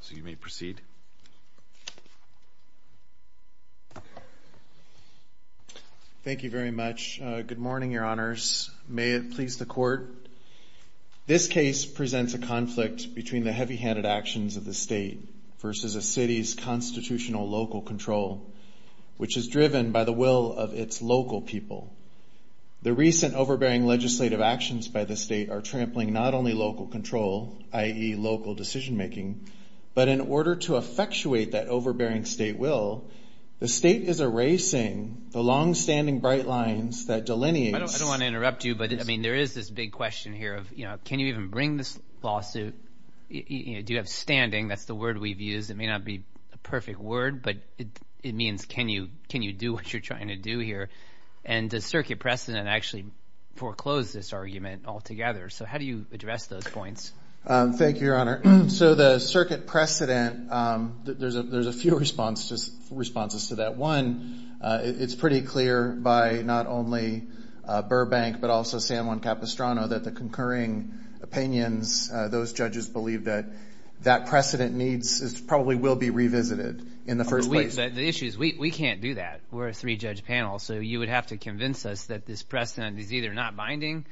So you may proceed. Thank you very much. Good morning, your honors. May it please the court. This case presents a conflict between the heavy-handed actions of the state versus a city's constitutional local control, which is driven by the will of its local people. The recent overbearing legislative actions by the state are trampling not only local control, i.e., local decision-making, but in order to effectuate that overbearing state will, the state is erasing the long-standing bright lines that delineate... I don't want to interrupt you, but there is this big question here of, can you even bring this lawsuit? Do you have standing? That's the word we've used. It may not be the perfect word, but it means, can you do what you're trying to do here? And does circuit precedent actually foreclose this argument altogether? So how do you address those points? Thank you, your honor. So the circuit precedent, there's a few responses to that. One, it's pretty clear by not only Burbank but also San Juan Capistrano that the concurring opinions, those judges believe that that precedent probably will be revisited in the first place. The issue is we can't do that. We're a three-judge panel. So you would have to convince us that this precedent is either not binding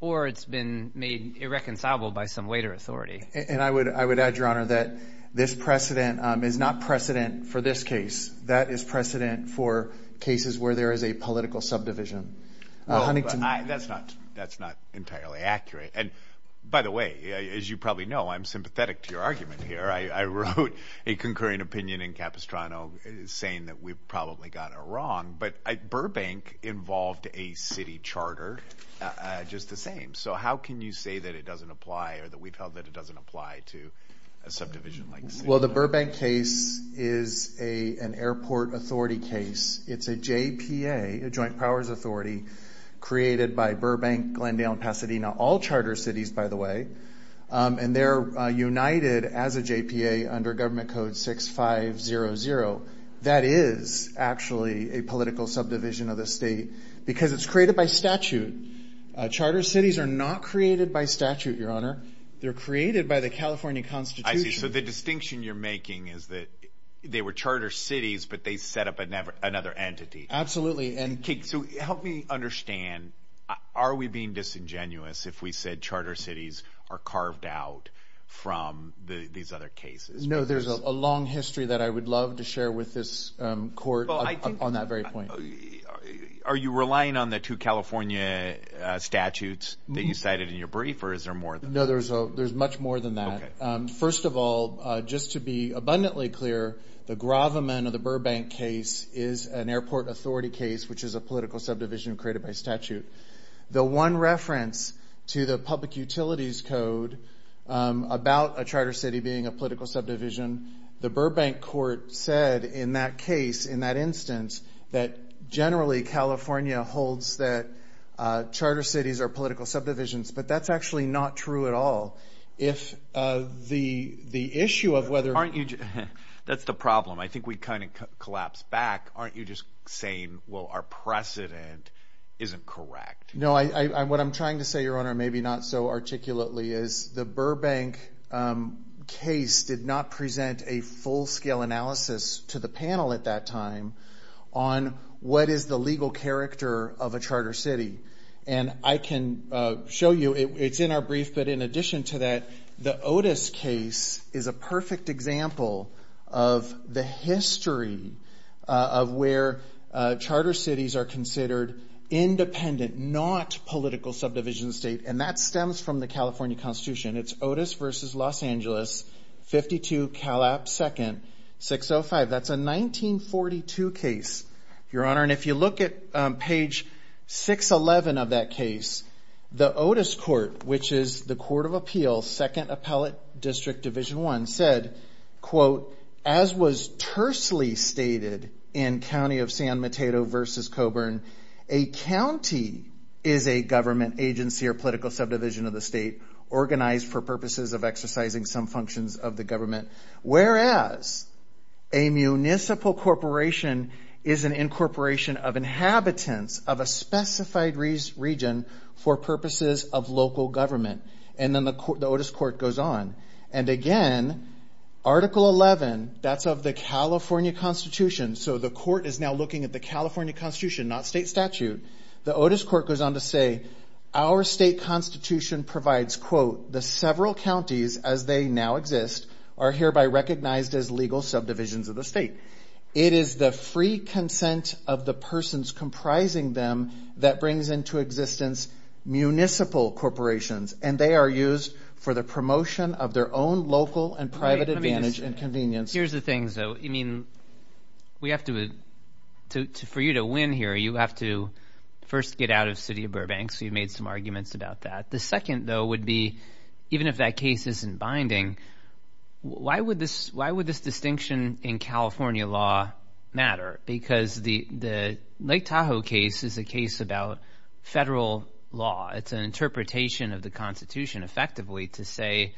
or it's been made irreconcilable by some weight or authority. And I would add, your honor, that this precedent is not precedent for this case. That is precedent for cases where there is a political subdivision. That's not entirely accurate. And by the way, as you probably know, I'm sympathetic to your argument here. I wrote a concurring opinion in Capistrano saying that we've probably got it wrong. But Burbank involved a city charter just the same. So how can you say that it doesn't apply or that we've held that it doesn't apply to a subdivision like San Juan? Well, the Burbank case is an airport authority case. It's a JPA, a joint powers authority, created by Burbank, Glendale, and Pasadena, all charter cities, by the way. And they're united as a JPA under Government Code 6500. That is actually a political subdivision of the state because it's created by statute. Charter cities are not created by statute, your honor. They're created by the California Constitution. I see. So the distinction you're making is that they were charter cities, but they set up another entity. So help me understand. Are we being disingenuous if we said charter cities are carved out from these other cases? No, there's a long history that I would love to share with this court on that very point. Are you relying on the two California statutes that you cited in your brief, or is there more than that? No, there's much more than that. First of all, just to be abundantly clear, the Gravamen or the Burbank case is an airport authority case, which is a political subdivision created by statute. The one reference to the public utilities code about a charter city being a political subdivision, the Burbank court said in that case, in that instance, that generally California holds that charter cities are political subdivisions, but that's actually not true at all. That's the problem. I think we kind of collapsed back. Aren't you just saying, well, our precedent isn't correct? No, what I'm trying to say, Your Honor, maybe not so articulately, is the Burbank case did not present a full-scale analysis to the panel at that time on what is the legal character of a charter city. And I can show you, it's in our brief, but in addition to that, the Otis case is a perfect example of the history of where charter cities are considered independent, not political subdivision state, and that stems from the California Constitution. It's Otis v. Los Angeles, 52 Calap 2nd, 605. That's a 1942 case, Your Honor, and if you look at page 611 of that case, the Otis court, which is the court of appeals, 2nd Appellate District, Division 1, said, quote, as was tersely stated in County of San Mateo v. Coburn, a county is a government agency or political subdivision of the state organized for purposes of exercising some functions of the government, whereas a municipal corporation is an incorporation of inhabitants of a specified region for purposes of local government. And then the Otis court goes on. And again, Article 11, that's of the California Constitution, so the court is now looking at the California Constitution, not state statute. The Otis court goes on to say, our state constitution provides, quote, the several counties as they now exist are hereby recognized as legal subdivisions of the state. It is the free consent of the persons comprising them that brings into existence municipal corporations, and they are used for the promotion of their own local and private advantage and convenience. Here's the thing, though. I mean, we have to, for you to win here, you have to first get out of the city of Burbank, so you've made some arguments about that. The second, though, would be, even if that case isn't binding, why would this distinction in California law matter? Because the Lake Tahoe case is a case about federal law. It's an interpretation of the Constitution, effectively, to say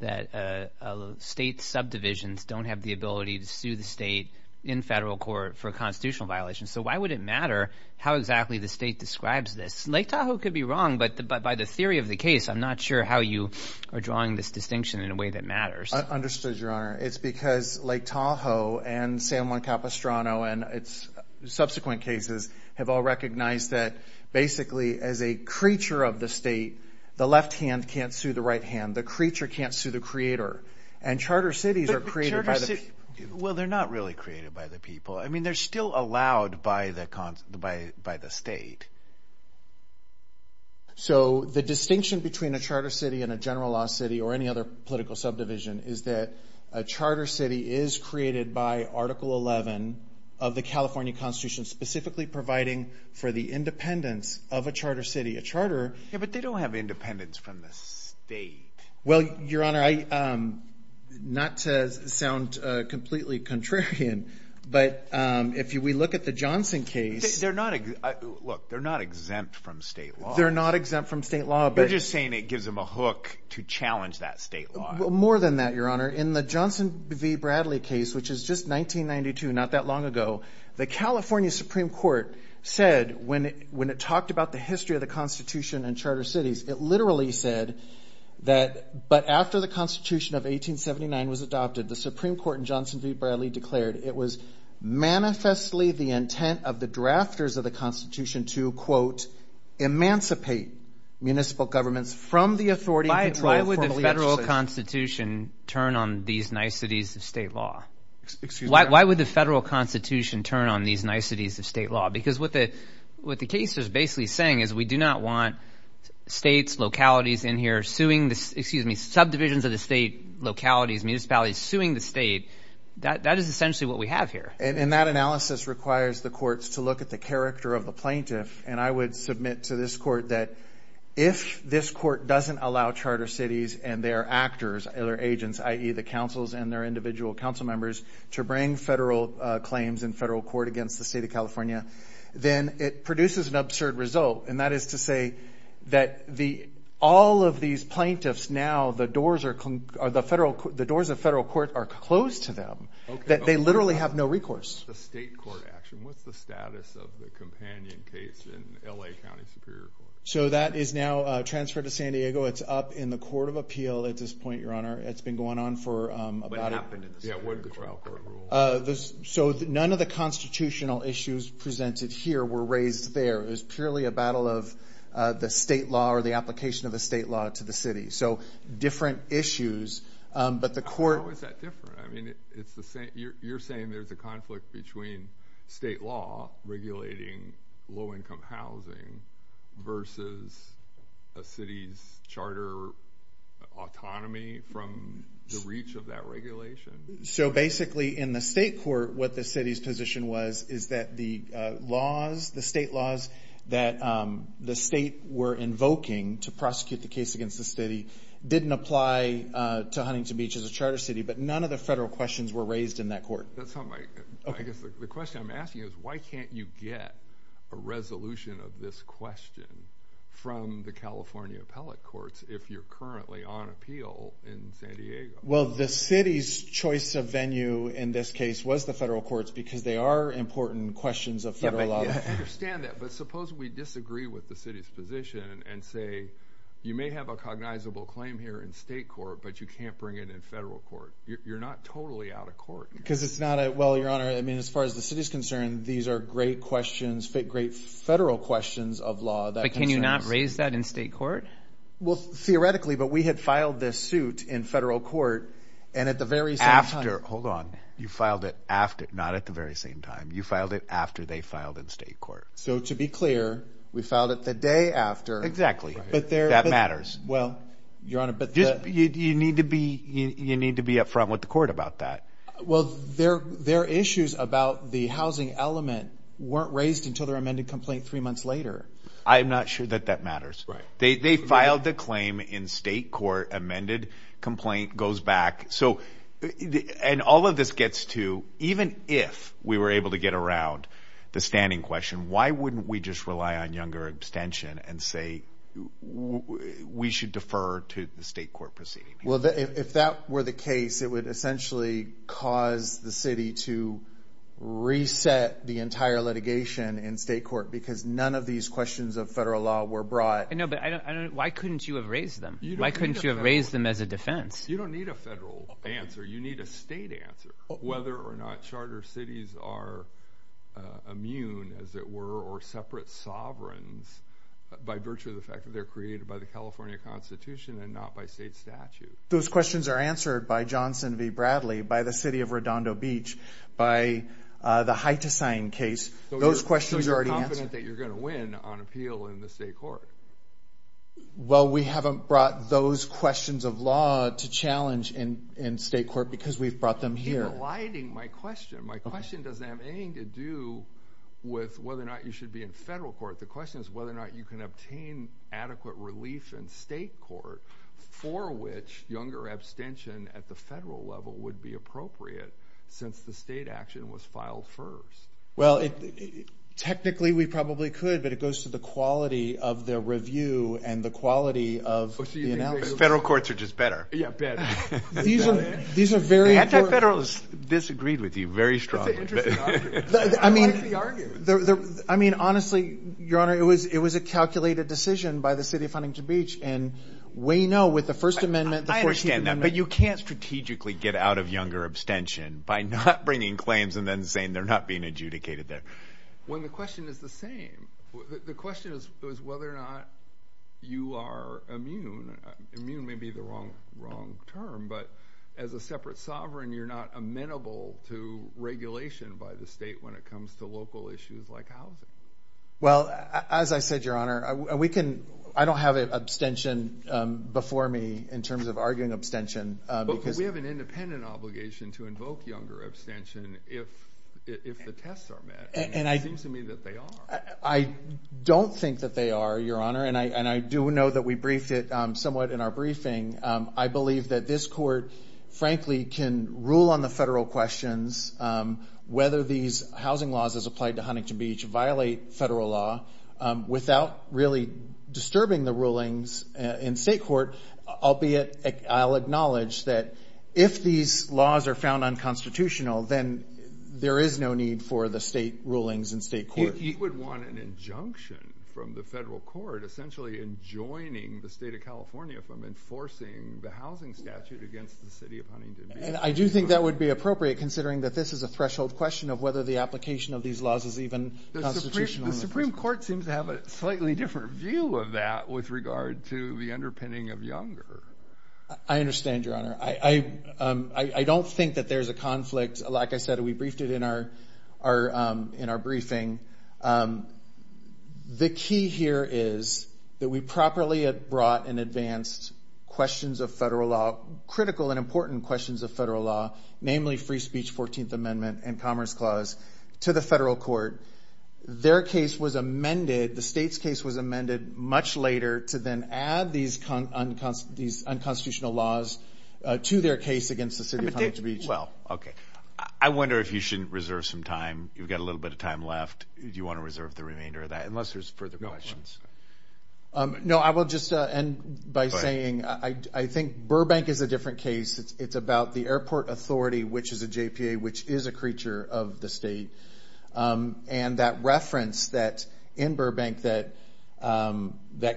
that state subdivisions don't have the ability to sue the state in federal court for constitutional violations. So why would it matter how exactly the state describes this? Lake Tahoe could be wrong, but by the theory of the case, I'm not sure how you are drawing this distinction in a way that matters. I understood, Your Honor. It's because Lake Tahoe and San Juan Capistrano and its subsequent cases have all recognized that, basically, as a creature of the state, the left hand can't sue the right hand. The creature can't sue the creator. And charter cities are created by the people. Well, they're not really created by the people. I mean, they're still allowed by the state. So the distinction between a charter city and a general law city or any other political subdivision is that a charter city is created by Article 11 of the California Constitution, specifically providing for the independence of a charter city. But they don't have independence from the state. Well, Your Honor, not to sound completely contrarian, but if we look at the Johnson case. Look, they're not exempt from state law. They're not exempt from state law. You're just saying it gives them a hook to challenge that state law. More than that, Your Honor, in the Johnson v. Bradley case, which is just 1992, not that long ago, the California Supreme Court said when it talked about the history of the Constitution and charter cities, it literally said that but after the Constitution of 1879 was adopted, the Supreme Court in Johnson v. Bradley declared it was manifestly the intent of the drafters of the Constitution to, quote, emancipate municipal governments from the authority Why would the federal Constitution turn on these niceties of state law? Excuse me? Why would the federal Constitution turn on these niceties of state law? Because what the case is basically saying is we do not want states, localities in here suing the subdivisions of the state, localities, municipalities suing the state. That is essentially what we have here. And that analysis requires the courts to look at the character of the plaintiff. And I would submit to this court that if this court doesn't allow charter cities and their actors, their agents, i.e., the councils and their individual council members to bring federal claims in federal court against the state of California, then it produces an absurd result. And that is to say that all of these plaintiffs now, the doors of federal court are closed to them, that they literally have no recourse. What's the state court action? What's the status of the companion case in L.A. County Superior Court? So that is now transferred to San Diego. It's up in the Court of Appeal at this point, Your Honor. It's been going on for about a— What happened in the Superior Court? Yeah, what did the trial court rule? So none of the constitutional issues presented here were raised there. It was purely a battle of the state law or the application of the state law to the city. So different issues, but the court— How is that different? You're saying there's a conflict between state law regulating low-income housing versus a city's charter autonomy from the reach of that regulation? So basically in the state court, what the city's position was is that the laws, the state laws that the state were invoking to prosecute the case against the city didn't apply to Huntington Beach as a charter city, but none of the federal questions were raised in that court. That's not my—I guess the question I'm asking is, why can't you get a resolution of this question from the California appellate courts if you're currently on appeal in San Diego? Well, the city's choice of venue in this case was the federal courts because they are important questions of federal law. I understand that, but suppose we disagree with the city's position and say you may have a cognizable claim here in state court, but you can't bring it in federal court. You're not totally out of court. Because it's not a—well, Your Honor, I mean, as far as the city's concerned, these are great questions, great federal questions of law. But can you not raise that in state court? Well, theoretically, but we had filed this suit in federal court, and at the very same time— After. Hold on. You filed it after, not at the very same time. You filed it after they filed in state court. So to be clear, we filed it the day after. Exactly. That matters. Well, Your Honor, but the— You need to be up front with the court about that. Well, their issues about the housing element weren't raised until their amended complaint three months later. I'm not sure that that matters. Right. They filed the claim in state court, amended complaint, goes back. So—and all of this gets to even if we were able to get around the standing question, why wouldn't we just rely on younger abstention and say we should defer to the state court proceeding? Well, if that were the case, it would essentially cause the city to reset the entire litigation in state court because none of these questions of federal law were brought. No, but I don't—why couldn't you have raised them? Why couldn't you have raised them as a defense? You don't need a federal answer. You need a state answer. Whether or not charter cities are immune, as it were, or separate sovereigns by virtue of the fact that they're created by the California Constitution and not by state statute. Those questions are answered by Johnson v. Bradley, by the city of Redondo Beach, by the Hitecine case. Those questions are already answered. So you're confident that you're going to win on appeal in the state court? Well, we haven't brought those questions of law to challenge in state court because we've brought them here. You're eliding my question. My question doesn't have anything to do with whether or not you should be in federal court. The question is whether or not you can obtain adequate relief in state court for which younger abstention at the federal level would be appropriate since the state action was filed first. Well, technically we probably could, but it goes to the quality of the review and the quality of the analysis. Federal courts are just better. Yeah, better. The anti-federalists disagreed with you very strongly. I mean, honestly, Your Honor, it was a calculated decision by the city of Huntington Beach, and we know with the First Amendment, the 14th Amendment. I understand that, but you can't strategically get out of younger abstention by not bringing claims and then saying they're not being adjudicated there. Well, the question is the same. The question is whether or not you are immune. Immune may be the wrong term, but as a separate sovereign, you're not amenable to regulation by the state when it comes to local issues like housing. Well, as I said, Your Honor, I don't have an abstention before me in terms of arguing abstention. But we have an independent obligation to invoke younger abstention if the tests are met. It seems to me that they are. I don't think that they are, Your Honor, and I do know that we briefed it somewhat in our briefing. I believe that this court, frankly, can rule on the federal questions whether these housing laws as applied to Huntington Beach violate federal law without really disturbing the rulings in state court, albeit I'll acknowledge that if these laws are found unconstitutional, then there is no need for the state rulings in state court. But he would want an injunction from the federal court, essentially enjoining the state of California from enforcing the housing statute against the city of Huntington Beach. And I do think that would be appropriate, considering that this is a threshold question of whether the application of these laws is even constitutional. The Supreme Court seems to have a slightly different view of that with regard to the underpinning of younger. I understand, Your Honor. I don't think that there's a conflict. Like I said, we briefed it in our briefing. The key here is that we properly brought and advanced questions of federal law, critical and important questions of federal law, namely free speech, 14th Amendment, and Commerce Clause to the federal court. Their case was amended, the state's case was amended much later to then add these unconstitutional laws to their case against the city of Huntington Beach. Well, okay. I wonder if you shouldn't reserve some time. You've got a little bit of time left. Do you want to reserve the remainder of that, unless there's further questions? No, I will just end by saying I think Burbank is a different case. It's about the airport authority, which is a JPA, which is a creature of the state. And that reference in Burbank that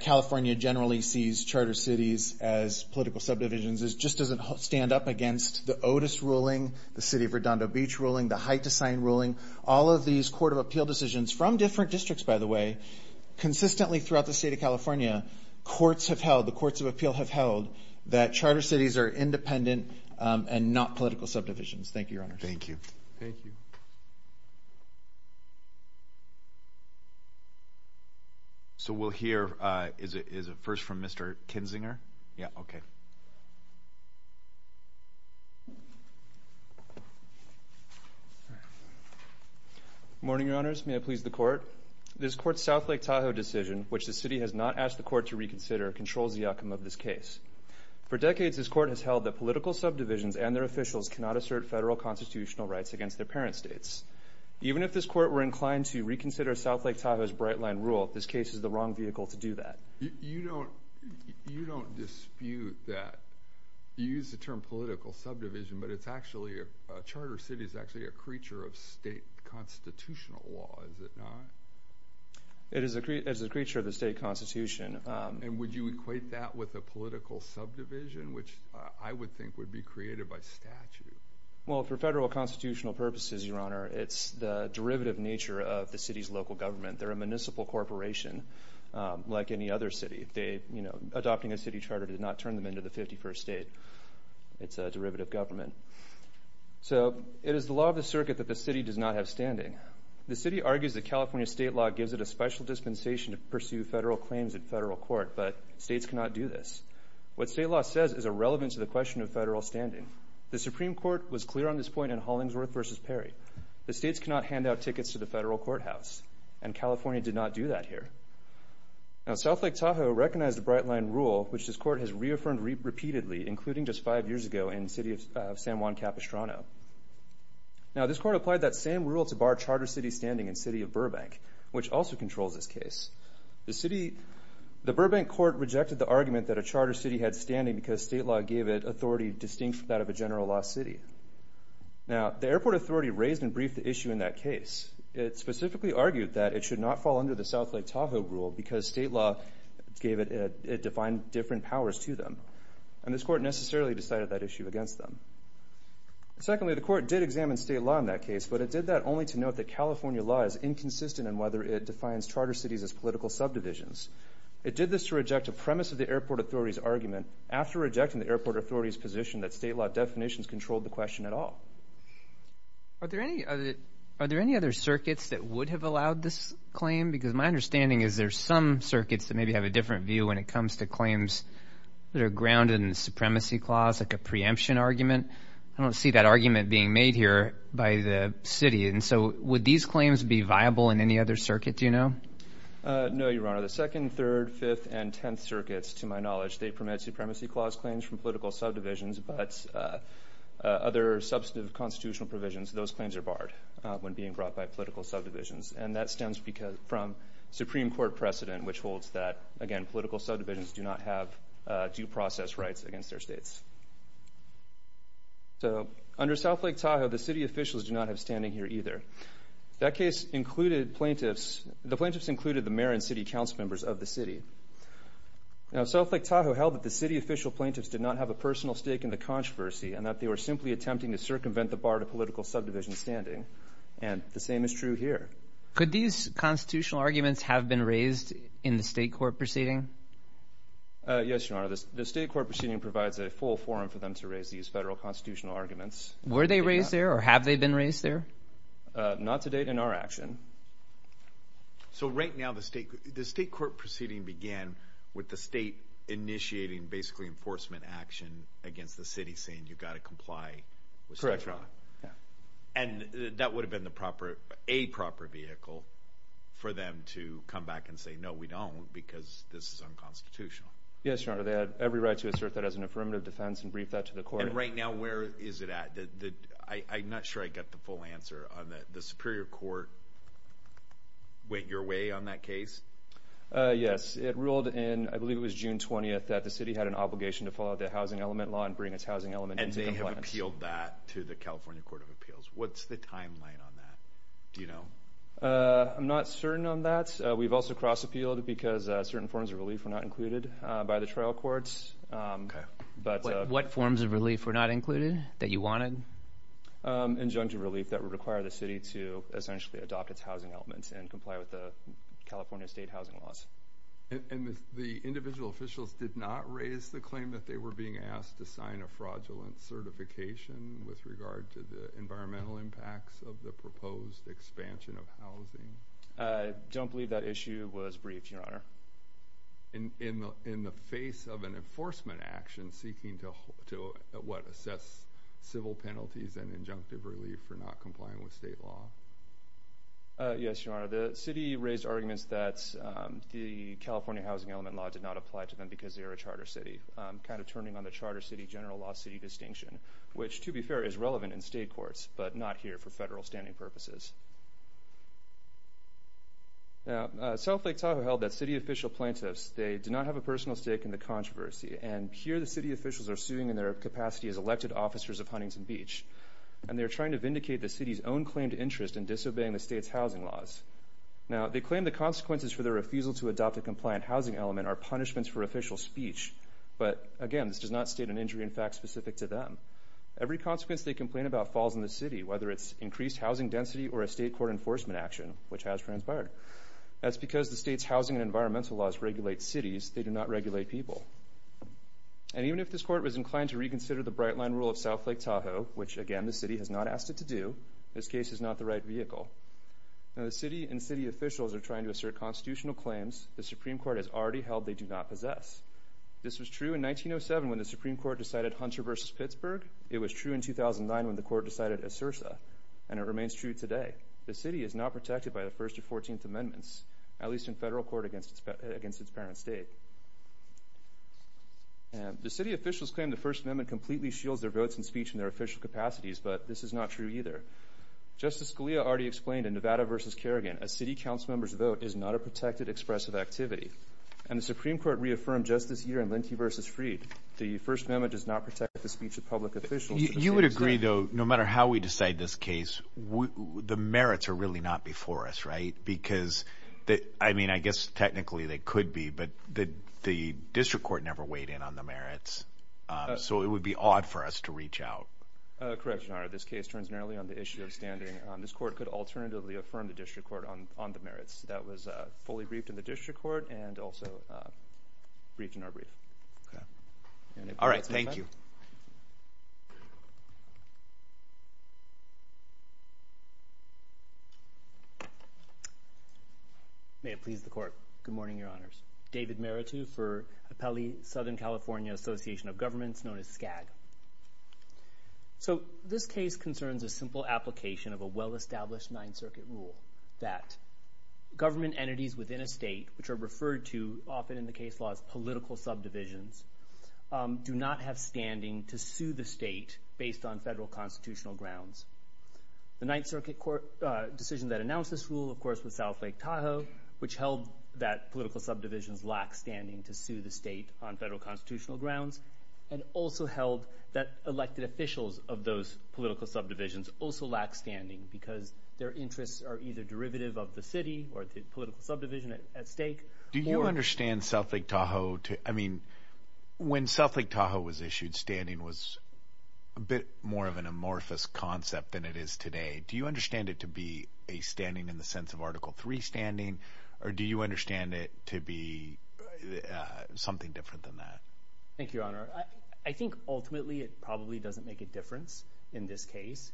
California generally sees charter cities as political subdivisions just doesn't stand up against the Otis ruling, the city of Redondo Beach ruling, the Hite Design ruling, all of these court of appeal decisions from different districts, by the way, consistently throughout the state of California, courts have held, the courts of appeal have held that charter cities are independent and not political subdivisions. Thank you, Your Honor. Thank you. Thank you. So we'll hear a verse from Mr. Kinzinger. Yeah, okay. Good morning, Your Honors. May I please the court? This court's South Lake Tahoe decision, which the city has not asked the court to reconsider, controls the outcome of this case. For decades this court has held that political subdivisions and their officials cannot assert federal constitutional rights against their parent states. Even if this court were inclined to reconsider South Lake Tahoe's bright line rule, this case is the wrong vehicle to do that. You don't dispute that. You use the term political subdivision, but a charter city is actually a creature of state constitutional law, is it not? It is a creature of the state constitution. And would you equate that with a political subdivision, which I would think would be created by statute? Well, for federal constitutional purposes, Your Honor, it's the derivative nature of the city's local government. They're a municipal corporation like any other city. Adopting a city charter did not turn them into the 51st state. It's a derivative government. So it is the law of the circuit that the city does not have standing. The city argues that California state law gives it a special dispensation to pursue federal claims at federal court, but states cannot do this. What state law says is irrelevant to the question of federal standing. The Supreme Court was clear on this point in Hollingsworth v. Perry. The states cannot hand out tickets to the federal courthouse, and California did not do that here. Now, South Lake Tahoe recognized the bright line rule, which this court has reaffirmed repeatedly, including just five years ago in the city of San Juan Capistrano. Now, this court applied that same rule to bar charter city standing in the city of Burbank, which also controls this case. The Burbank court rejected the argument that a charter city had standing because state law gave it authority distinct from that of a general law city. Now, the airport authority raised and briefed the issue in that case. It specifically argued that it should not fall under the South Lake Tahoe rule because state law defined different powers to them, and this court necessarily decided that issue against them. Secondly, the court did examine state law in that case, but it did that only to note that California law is inconsistent in whether it defines charter cities as political subdivisions. It did this to reject a premise of the airport authority's argument after rejecting the airport authority's position that state law definitions controlled the question at all. Are there any other circuits that would have allowed this claim? Because my understanding is there are some circuits that maybe have a different view when it comes to claims that are grounded in the supremacy clause, like a preemption argument. I don't see that argument being made here by the city. And so would these claims be viable in any other circuit, do you know? No, Your Honor. The Second, Third, Fifth, and Tenth Circuits, to my knowledge, they permit supremacy clause claims from political subdivisions, but other substantive constitutional provisions, those claims are barred when being brought by political subdivisions. And that stems from Supreme Court precedent, which holds that, again, political subdivisions do not have due process rights against their states. So under South Lake Tahoe, the city officials do not have standing here either. That case included plaintiffs. The plaintiffs included the mayor and city council members of the city. Now South Lake Tahoe held that the city official plaintiffs did not have a personal stake in the controversy and that they were simply attempting to circumvent the bar to political subdivision standing. And the same is true here. Could these constitutional arguments have been raised in the state court proceeding? Yes, Your Honor. The state court proceeding provides a full forum for them to raise these federal constitutional arguments. Were they raised there or have they been raised there? Not to date in our action. So right now the state court proceeding began with the state initiating basically enforcement action against the city, saying you've got to comply with state law. Correct, Your Honor. And that would have been a proper vehicle for them to come back and say, no, we don't because this is unconstitutional. Yes, Your Honor. They had every right to assert that as an affirmative defense and brief that to the court. And right now where is it at? I'm not sure I get the full answer on that. The Superior Court went your way on that case? Yes. It ruled in, I believe it was June 20th, that the city had an obligation to follow the housing element law and bring its housing element into compliance. And they have appealed that to the California Court of Appeals. What's the timeline on that? Do you know? I'm not certain on that. We've also cross-appealed because certain forms of relief were not included by the trial courts. What forms of relief were not included that you wanted? Injunctive relief that would require the city to essentially adopt its housing elements and comply with the California state housing laws. And the individual officials did not raise the claim that they were being asked to sign a fraudulent certification with regard to the environmental impacts of the proposed expansion of housing? I don't believe that issue was briefed, Your Honor. In the face of an enforcement action seeking to, what, assess civil penalties and injunctive relief for not complying with state law? Yes, Your Honor. The city raised arguments that the California housing element law did not apply to them because they were a charter city, kind of turning on the charter city general law city distinction, which, to be fair, is relevant in state courts, but not here for federal standing purposes. Now, South Lake Tahoe held that city official plaintiffs, they did not have a personal stake in the controversy, and here the city officials are suing in their capacity as elected officers of Huntington Beach, and they're trying to vindicate the city's own claimed interest in disobeying the state's housing laws. Now, they claim the consequences for their refusal to adopt a compliant housing element are punishments for official speech, but, again, this does not state an injury in fact specific to them. Every consequence they complain about falls in the city, whether it's increased housing density or a state court enforcement action, which has transpired. That's because the state's housing and environmental laws regulate cities, they do not regulate people. And even if this court was inclined to reconsider the bright-line rule of South Lake Tahoe, which, again, the city has not asked it to do, this case is not the right vehicle. Now, the city and city officials are trying to assert constitutional claims the Supreme Court has already held they do not possess. This was true in 1907 when the Supreme Court decided Hunter v. Pittsburgh. It was true in 2009 when the court decided Esursa. And it remains true today. The city is not protected by the First or Fourteenth Amendments, at least in federal court against its parent state. The city officials claim the First Amendment completely shields their votes and speech in their official capacities, but this is not true either. Justice Scalia already explained in Nevada v. Kerrigan a city council member's vote is not a protected expressive activity. And the Supreme Court reaffirmed just this year in Linkey v. Freed the First Amendment does not protect the speech of public officials. You would agree, though, no matter how we decide this case, the merits are really not before us, right? Because, I mean, I guess technically they could be, but the district court never weighed in on the merits, so it would be odd for us to reach out. Correct, Your Honor. This case turns narrowly on the issue of standarding. This court could alternatively affirm the district court on the merits. That was fully briefed in the district court and also briefed in our brief. All right. Thank you. May it please the Court. Good morning, Your Honors. David Meritu for Appellee Southern California Association of Governments, known as SCAG. So this case concerns a simple application of a well-established Ninth Circuit rule that government entities within a state, which are referred to often in the case law as political subdivisions, do not have standing to sue the state based on federal constitutional grounds. The Ninth Circuit decision that announced this rule, of course, was South Lake Tahoe, which held that political subdivisions lack standing to sue the state on federal constitutional grounds and also held that elected officials of those political subdivisions also lack standing because their interests are either derivative of the city or the political subdivision at stake or... Do you understand South Lake Tahoe to... I mean, when South Lake Tahoe was issued, standing was a bit more of an amorphous concept than it is today. Do you understand it to be a standing in the sense of Article III standing, or do you understand it to be something different than that? Thank you, Your Honor. I think ultimately it probably doesn't make a difference in this case.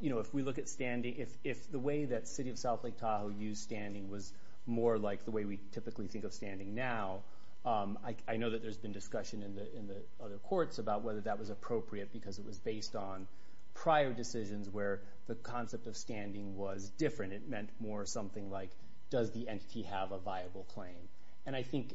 You know, if we look at standing, if the way that City of South Lake Tahoe used standing was more like the way we typically think of standing now, I know that there's been discussion in the other courts about whether that was appropriate because it was based on prior decisions where the concept of standing was different. It meant more something like, does the entity have a viable claim? And I think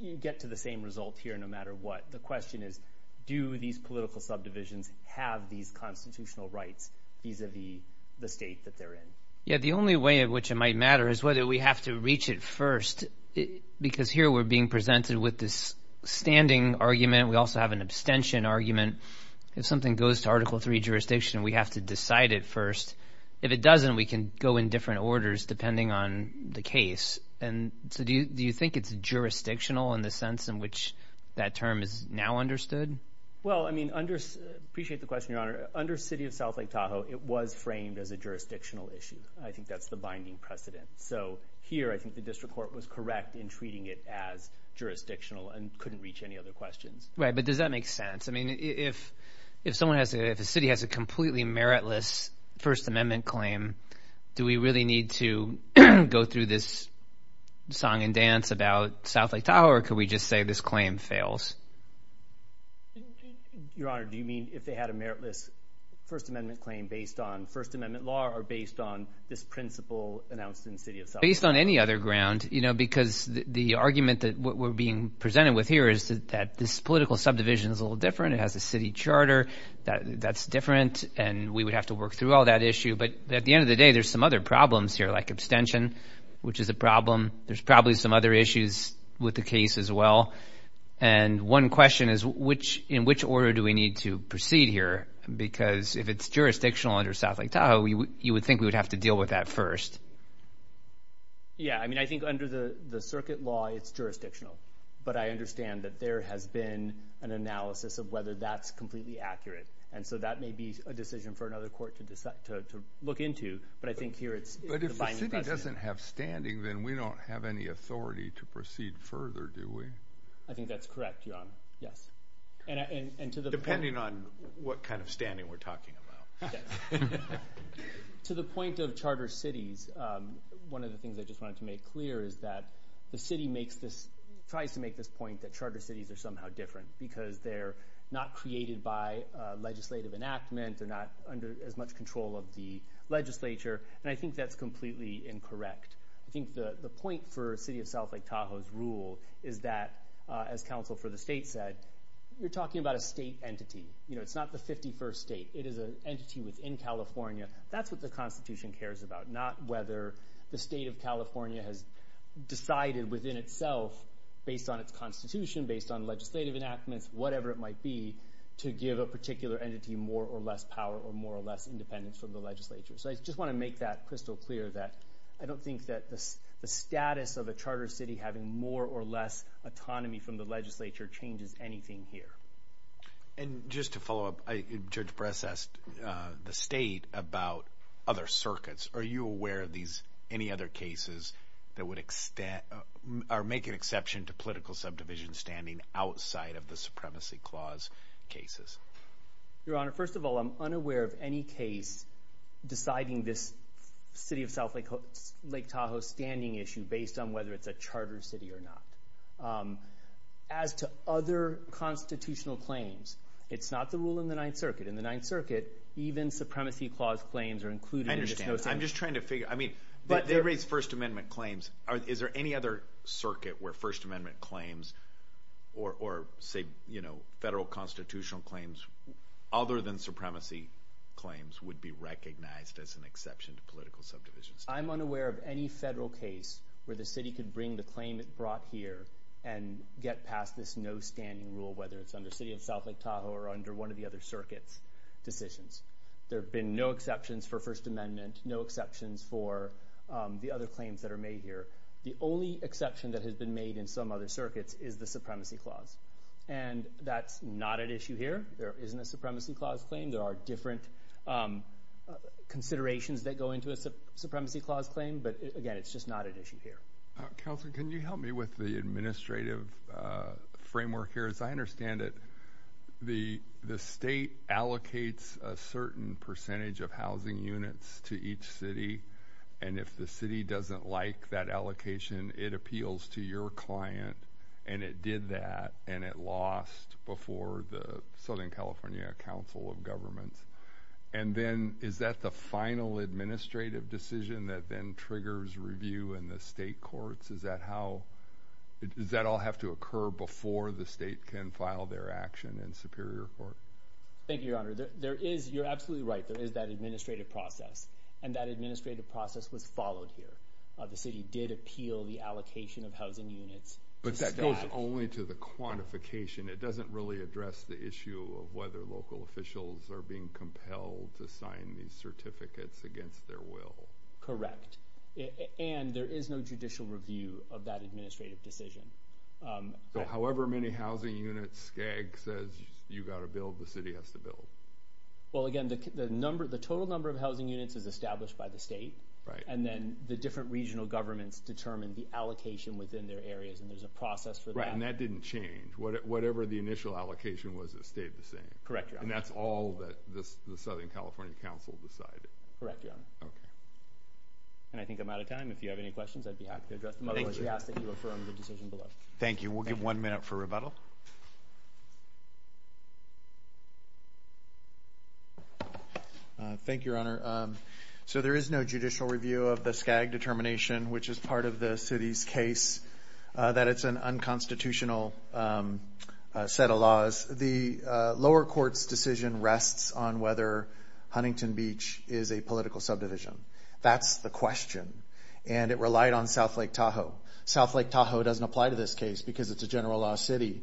you get to the same result here no matter what. The question is, do these political subdivisions have these constitutional rights vis-à-vis the state that they're in? Yeah, the only way in which it might matter is whether we have to reach it first because here we're being presented with this standing argument. We also have an abstention argument. If something goes to Article III jurisdiction, we have to decide it first. If it doesn't, we can go in different orders depending on the case. Do you think it's jurisdictional in the sense in which that term is now understood? Well, I mean, I appreciate the question, Your Honor. Under City of South Lake Tahoe, it was framed as a jurisdictional issue. I think that's the binding precedent. So here I think the district court was correct in treating it as jurisdictional and couldn't reach any other questions. Right, but does that make sense? I mean, if a city has a completely meritless First Amendment claim, do we really need to go through this song and dance about South Lake Tahoe or could we just say this claim fails? Your Honor, do you mean if they had a meritless First Amendment claim based on First Amendment law or based on this principle announced in City of South Lake Tahoe? Based on any other ground because the argument that we're being presented with here is that this political subdivision is a little different. It has a city charter that's different, and we would have to work through all that issue. But at the end of the day, there's some other problems here like abstention, which is a problem. There's probably some other issues with the case as well. And one question is in which order do we need to proceed here because if it's jurisdictional under South Lake Tahoe, you would think we would have to deal with that first. Yeah, I mean, I think under the circuit law, it's jurisdictional. But I understand that there has been an analysis of whether that's completely accurate. And so that may be a decision for another court to look into. But I think here it's the binding precedent. But if the city doesn't have standing, then we don't have any authority to proceed further, do we? I think that's correct, Your Honor. Yes. Depending on what kind of standing we're talking about. To the point of charter cities, one of the things I just wanted to make clear is that the city tries to make this point that charter cities are somehow different because they're not created by legislative enactment. They're not under as much control of the legislature. And I think that's completely incorrect. I think the point for a city of South Lake Tahoe's rule is that, as counsel for the state said, you're talking about a state entity. You know, it's not the 51st state. It is an entity within California. That's what the Constitution cares about, not whether the state of California has decided within itself, based on its Constitution, based on legislative enactments, whatever it might be, to give a particular entity more or less power or more or less independence from the legislature. So I just want to make that crystal clear that I don't think that the status of a charter city having more or less autonomy from the legislature changes anything here. And just to follow up, Judge Bress asked the state about other circuits. Are you aware of any other cases that would make an exception to political subdivision standing outside of the Supremacy Clause cases? Your Honor, first of all, I'm unaware of any case deciding this city of South Lake Tahoe's standing issue based on whether it's a charter city or not. As to other constitutional claims, it's not the rule in the Ninth Circuit. In the Ninth Circuit, even Supremacy Clause claims are included. I understand. I'm just trying to figure – I mean, they raise First Amendment claims. Is there any other circuit where First Amendment claims or, say, federal constitutional claims other than supremacy claims would be recognized as an exception to political subdivision standing? I'm unaware of any federal case where the city could bring the claim it brought here and get past this no-standing rule, whether it's under the city of South Lake Tahoe or under one of the other circuits' decisions. There have been no exceptions for First Amendment, no exceptions for the other claims that are made here. The only exception that has been made in some other circuits is the Supremacy Clause, and that's not at issue here. There isn't a Supremacy Clause claim. There are different considerations that go into a Supremacy Clause claim, but, again, it's just not at issue here. Counselor, can you help me with the administrative framework here? Because I understand that the state allocates a certain percentage of housing units to each city, and if the city doesn't like that allocation, it appeals to your client, and it did that, and it lost before the Southern California Council of Governments. And then is that the final administrative decision that then triggers review in the state courts? Does that all have to occur before the state can file their action in Superior Court? Thank you, Your Honor. You're absolutely right. There is that administrative process, and that administrative process was followed here. The city did appeal the allocation of housing units. But that goes only to the quantification. It doesn't really address the issue of whether local officials are being compelled to sign these certificates against their will. Correct. And there is no judicial review of that administrative decision. So however many housing units SCAG says you've got to build, the city has to build. Well, again, the total number of housing units is established by the state, and then the different regional governments determine the allocation within their areas, and there's a process for that. Right, and that didn't change. Whatever the initial allocation was, it stayed the same. Correct, Your Honor. And that's all that the Southern California Council decided. Correct, Your Honor. Okay. And I think I'm out of time. If you have any questions, I'd be happy to address them. Otherwise, we ask that you affirm the decision below. Thank you. We'll give one minute for rebuttal. Thank you, Your Honor. So there is no judicial review of the SCAG determination, which is part of the city's case, that it's an unconstitutional set of laws. The lower court's decision rests on whether Huntington Beach is a political subdivision. That's the question, and it relied on South Lake Tahoe. South Lake Tahoe doesn't apply to this case because it's a general law city.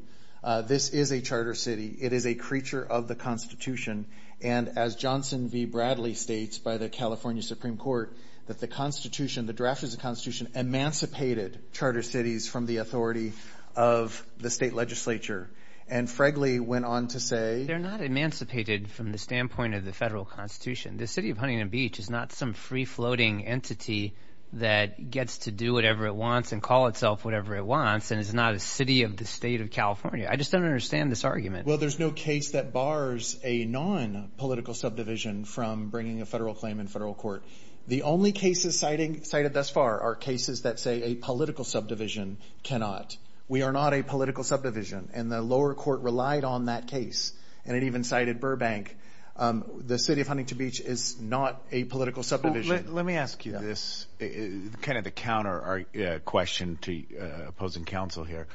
This is a charter city. It is a creature of the Constitution, and as Johnson v. Bradley states by the California Supreme Court, that the draft of the Constitution emancipated charter cities from the authority of the state legislature. And Fregley went on to say— They're not emancipated from the standpoint of the federal Constitution. The city of Huntington Beach is not some free-floating entity that gets to do whatever it wants and call itself whatever it wants, and it's not a city of the state of California. I just don't understand this argument. Well, there's no case that bars a nonpolitical subdivision from bringing a federal claim in federal court. The only cases cited thus far are cases that say a political subdivision cannot. We are not a political subdivision, and the lower court relied on that case, and it even cited Burbank. The city of Huntington Beach is not a political subdivision. Let me ask you this, kind of the counter question to opposing counsel here.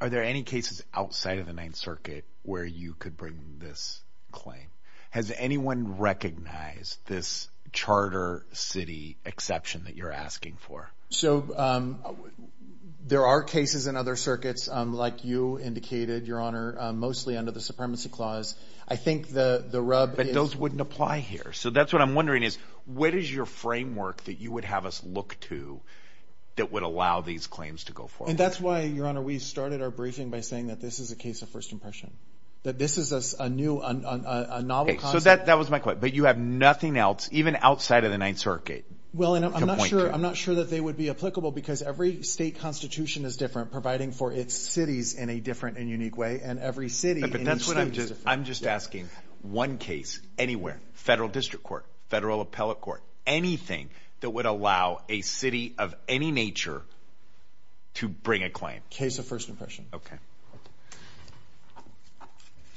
Are there any cases outside of the Ninth Circuit where you could bring this claim? Has anyone recognized this charter city exception that you're asking for? So there are cases in other circuits, like you indicated, Your Honor, mostly under the Supremacy Clause. I think the rub is— But those wouldn't apply here, so that's what I'm wondering is, what is your framework that you would have us look to that would allow these claims to go forward? And that's why, Your Honor, we started our briefing by saying that this is a case of first impression, that this is a novel concept. So that was my question, but you have nothing else, even outside of the Ninth Circuit, to point to? Well, I'm not sure that they would be applicable because every state constitution is different, providing for its cities in a different and unique way, and every city in each state is different. I'm just asking, one case anywhere, federal district court, federal appellate court, anything that would allow a city of any nature to bring a claim? Case of first impression.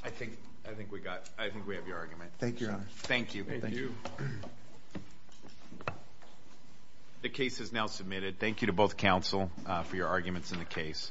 I think we have your argument. Thank you, Your Honor. Thank you. The case is now submitted. Thank you to both counsel for your arguments in the case.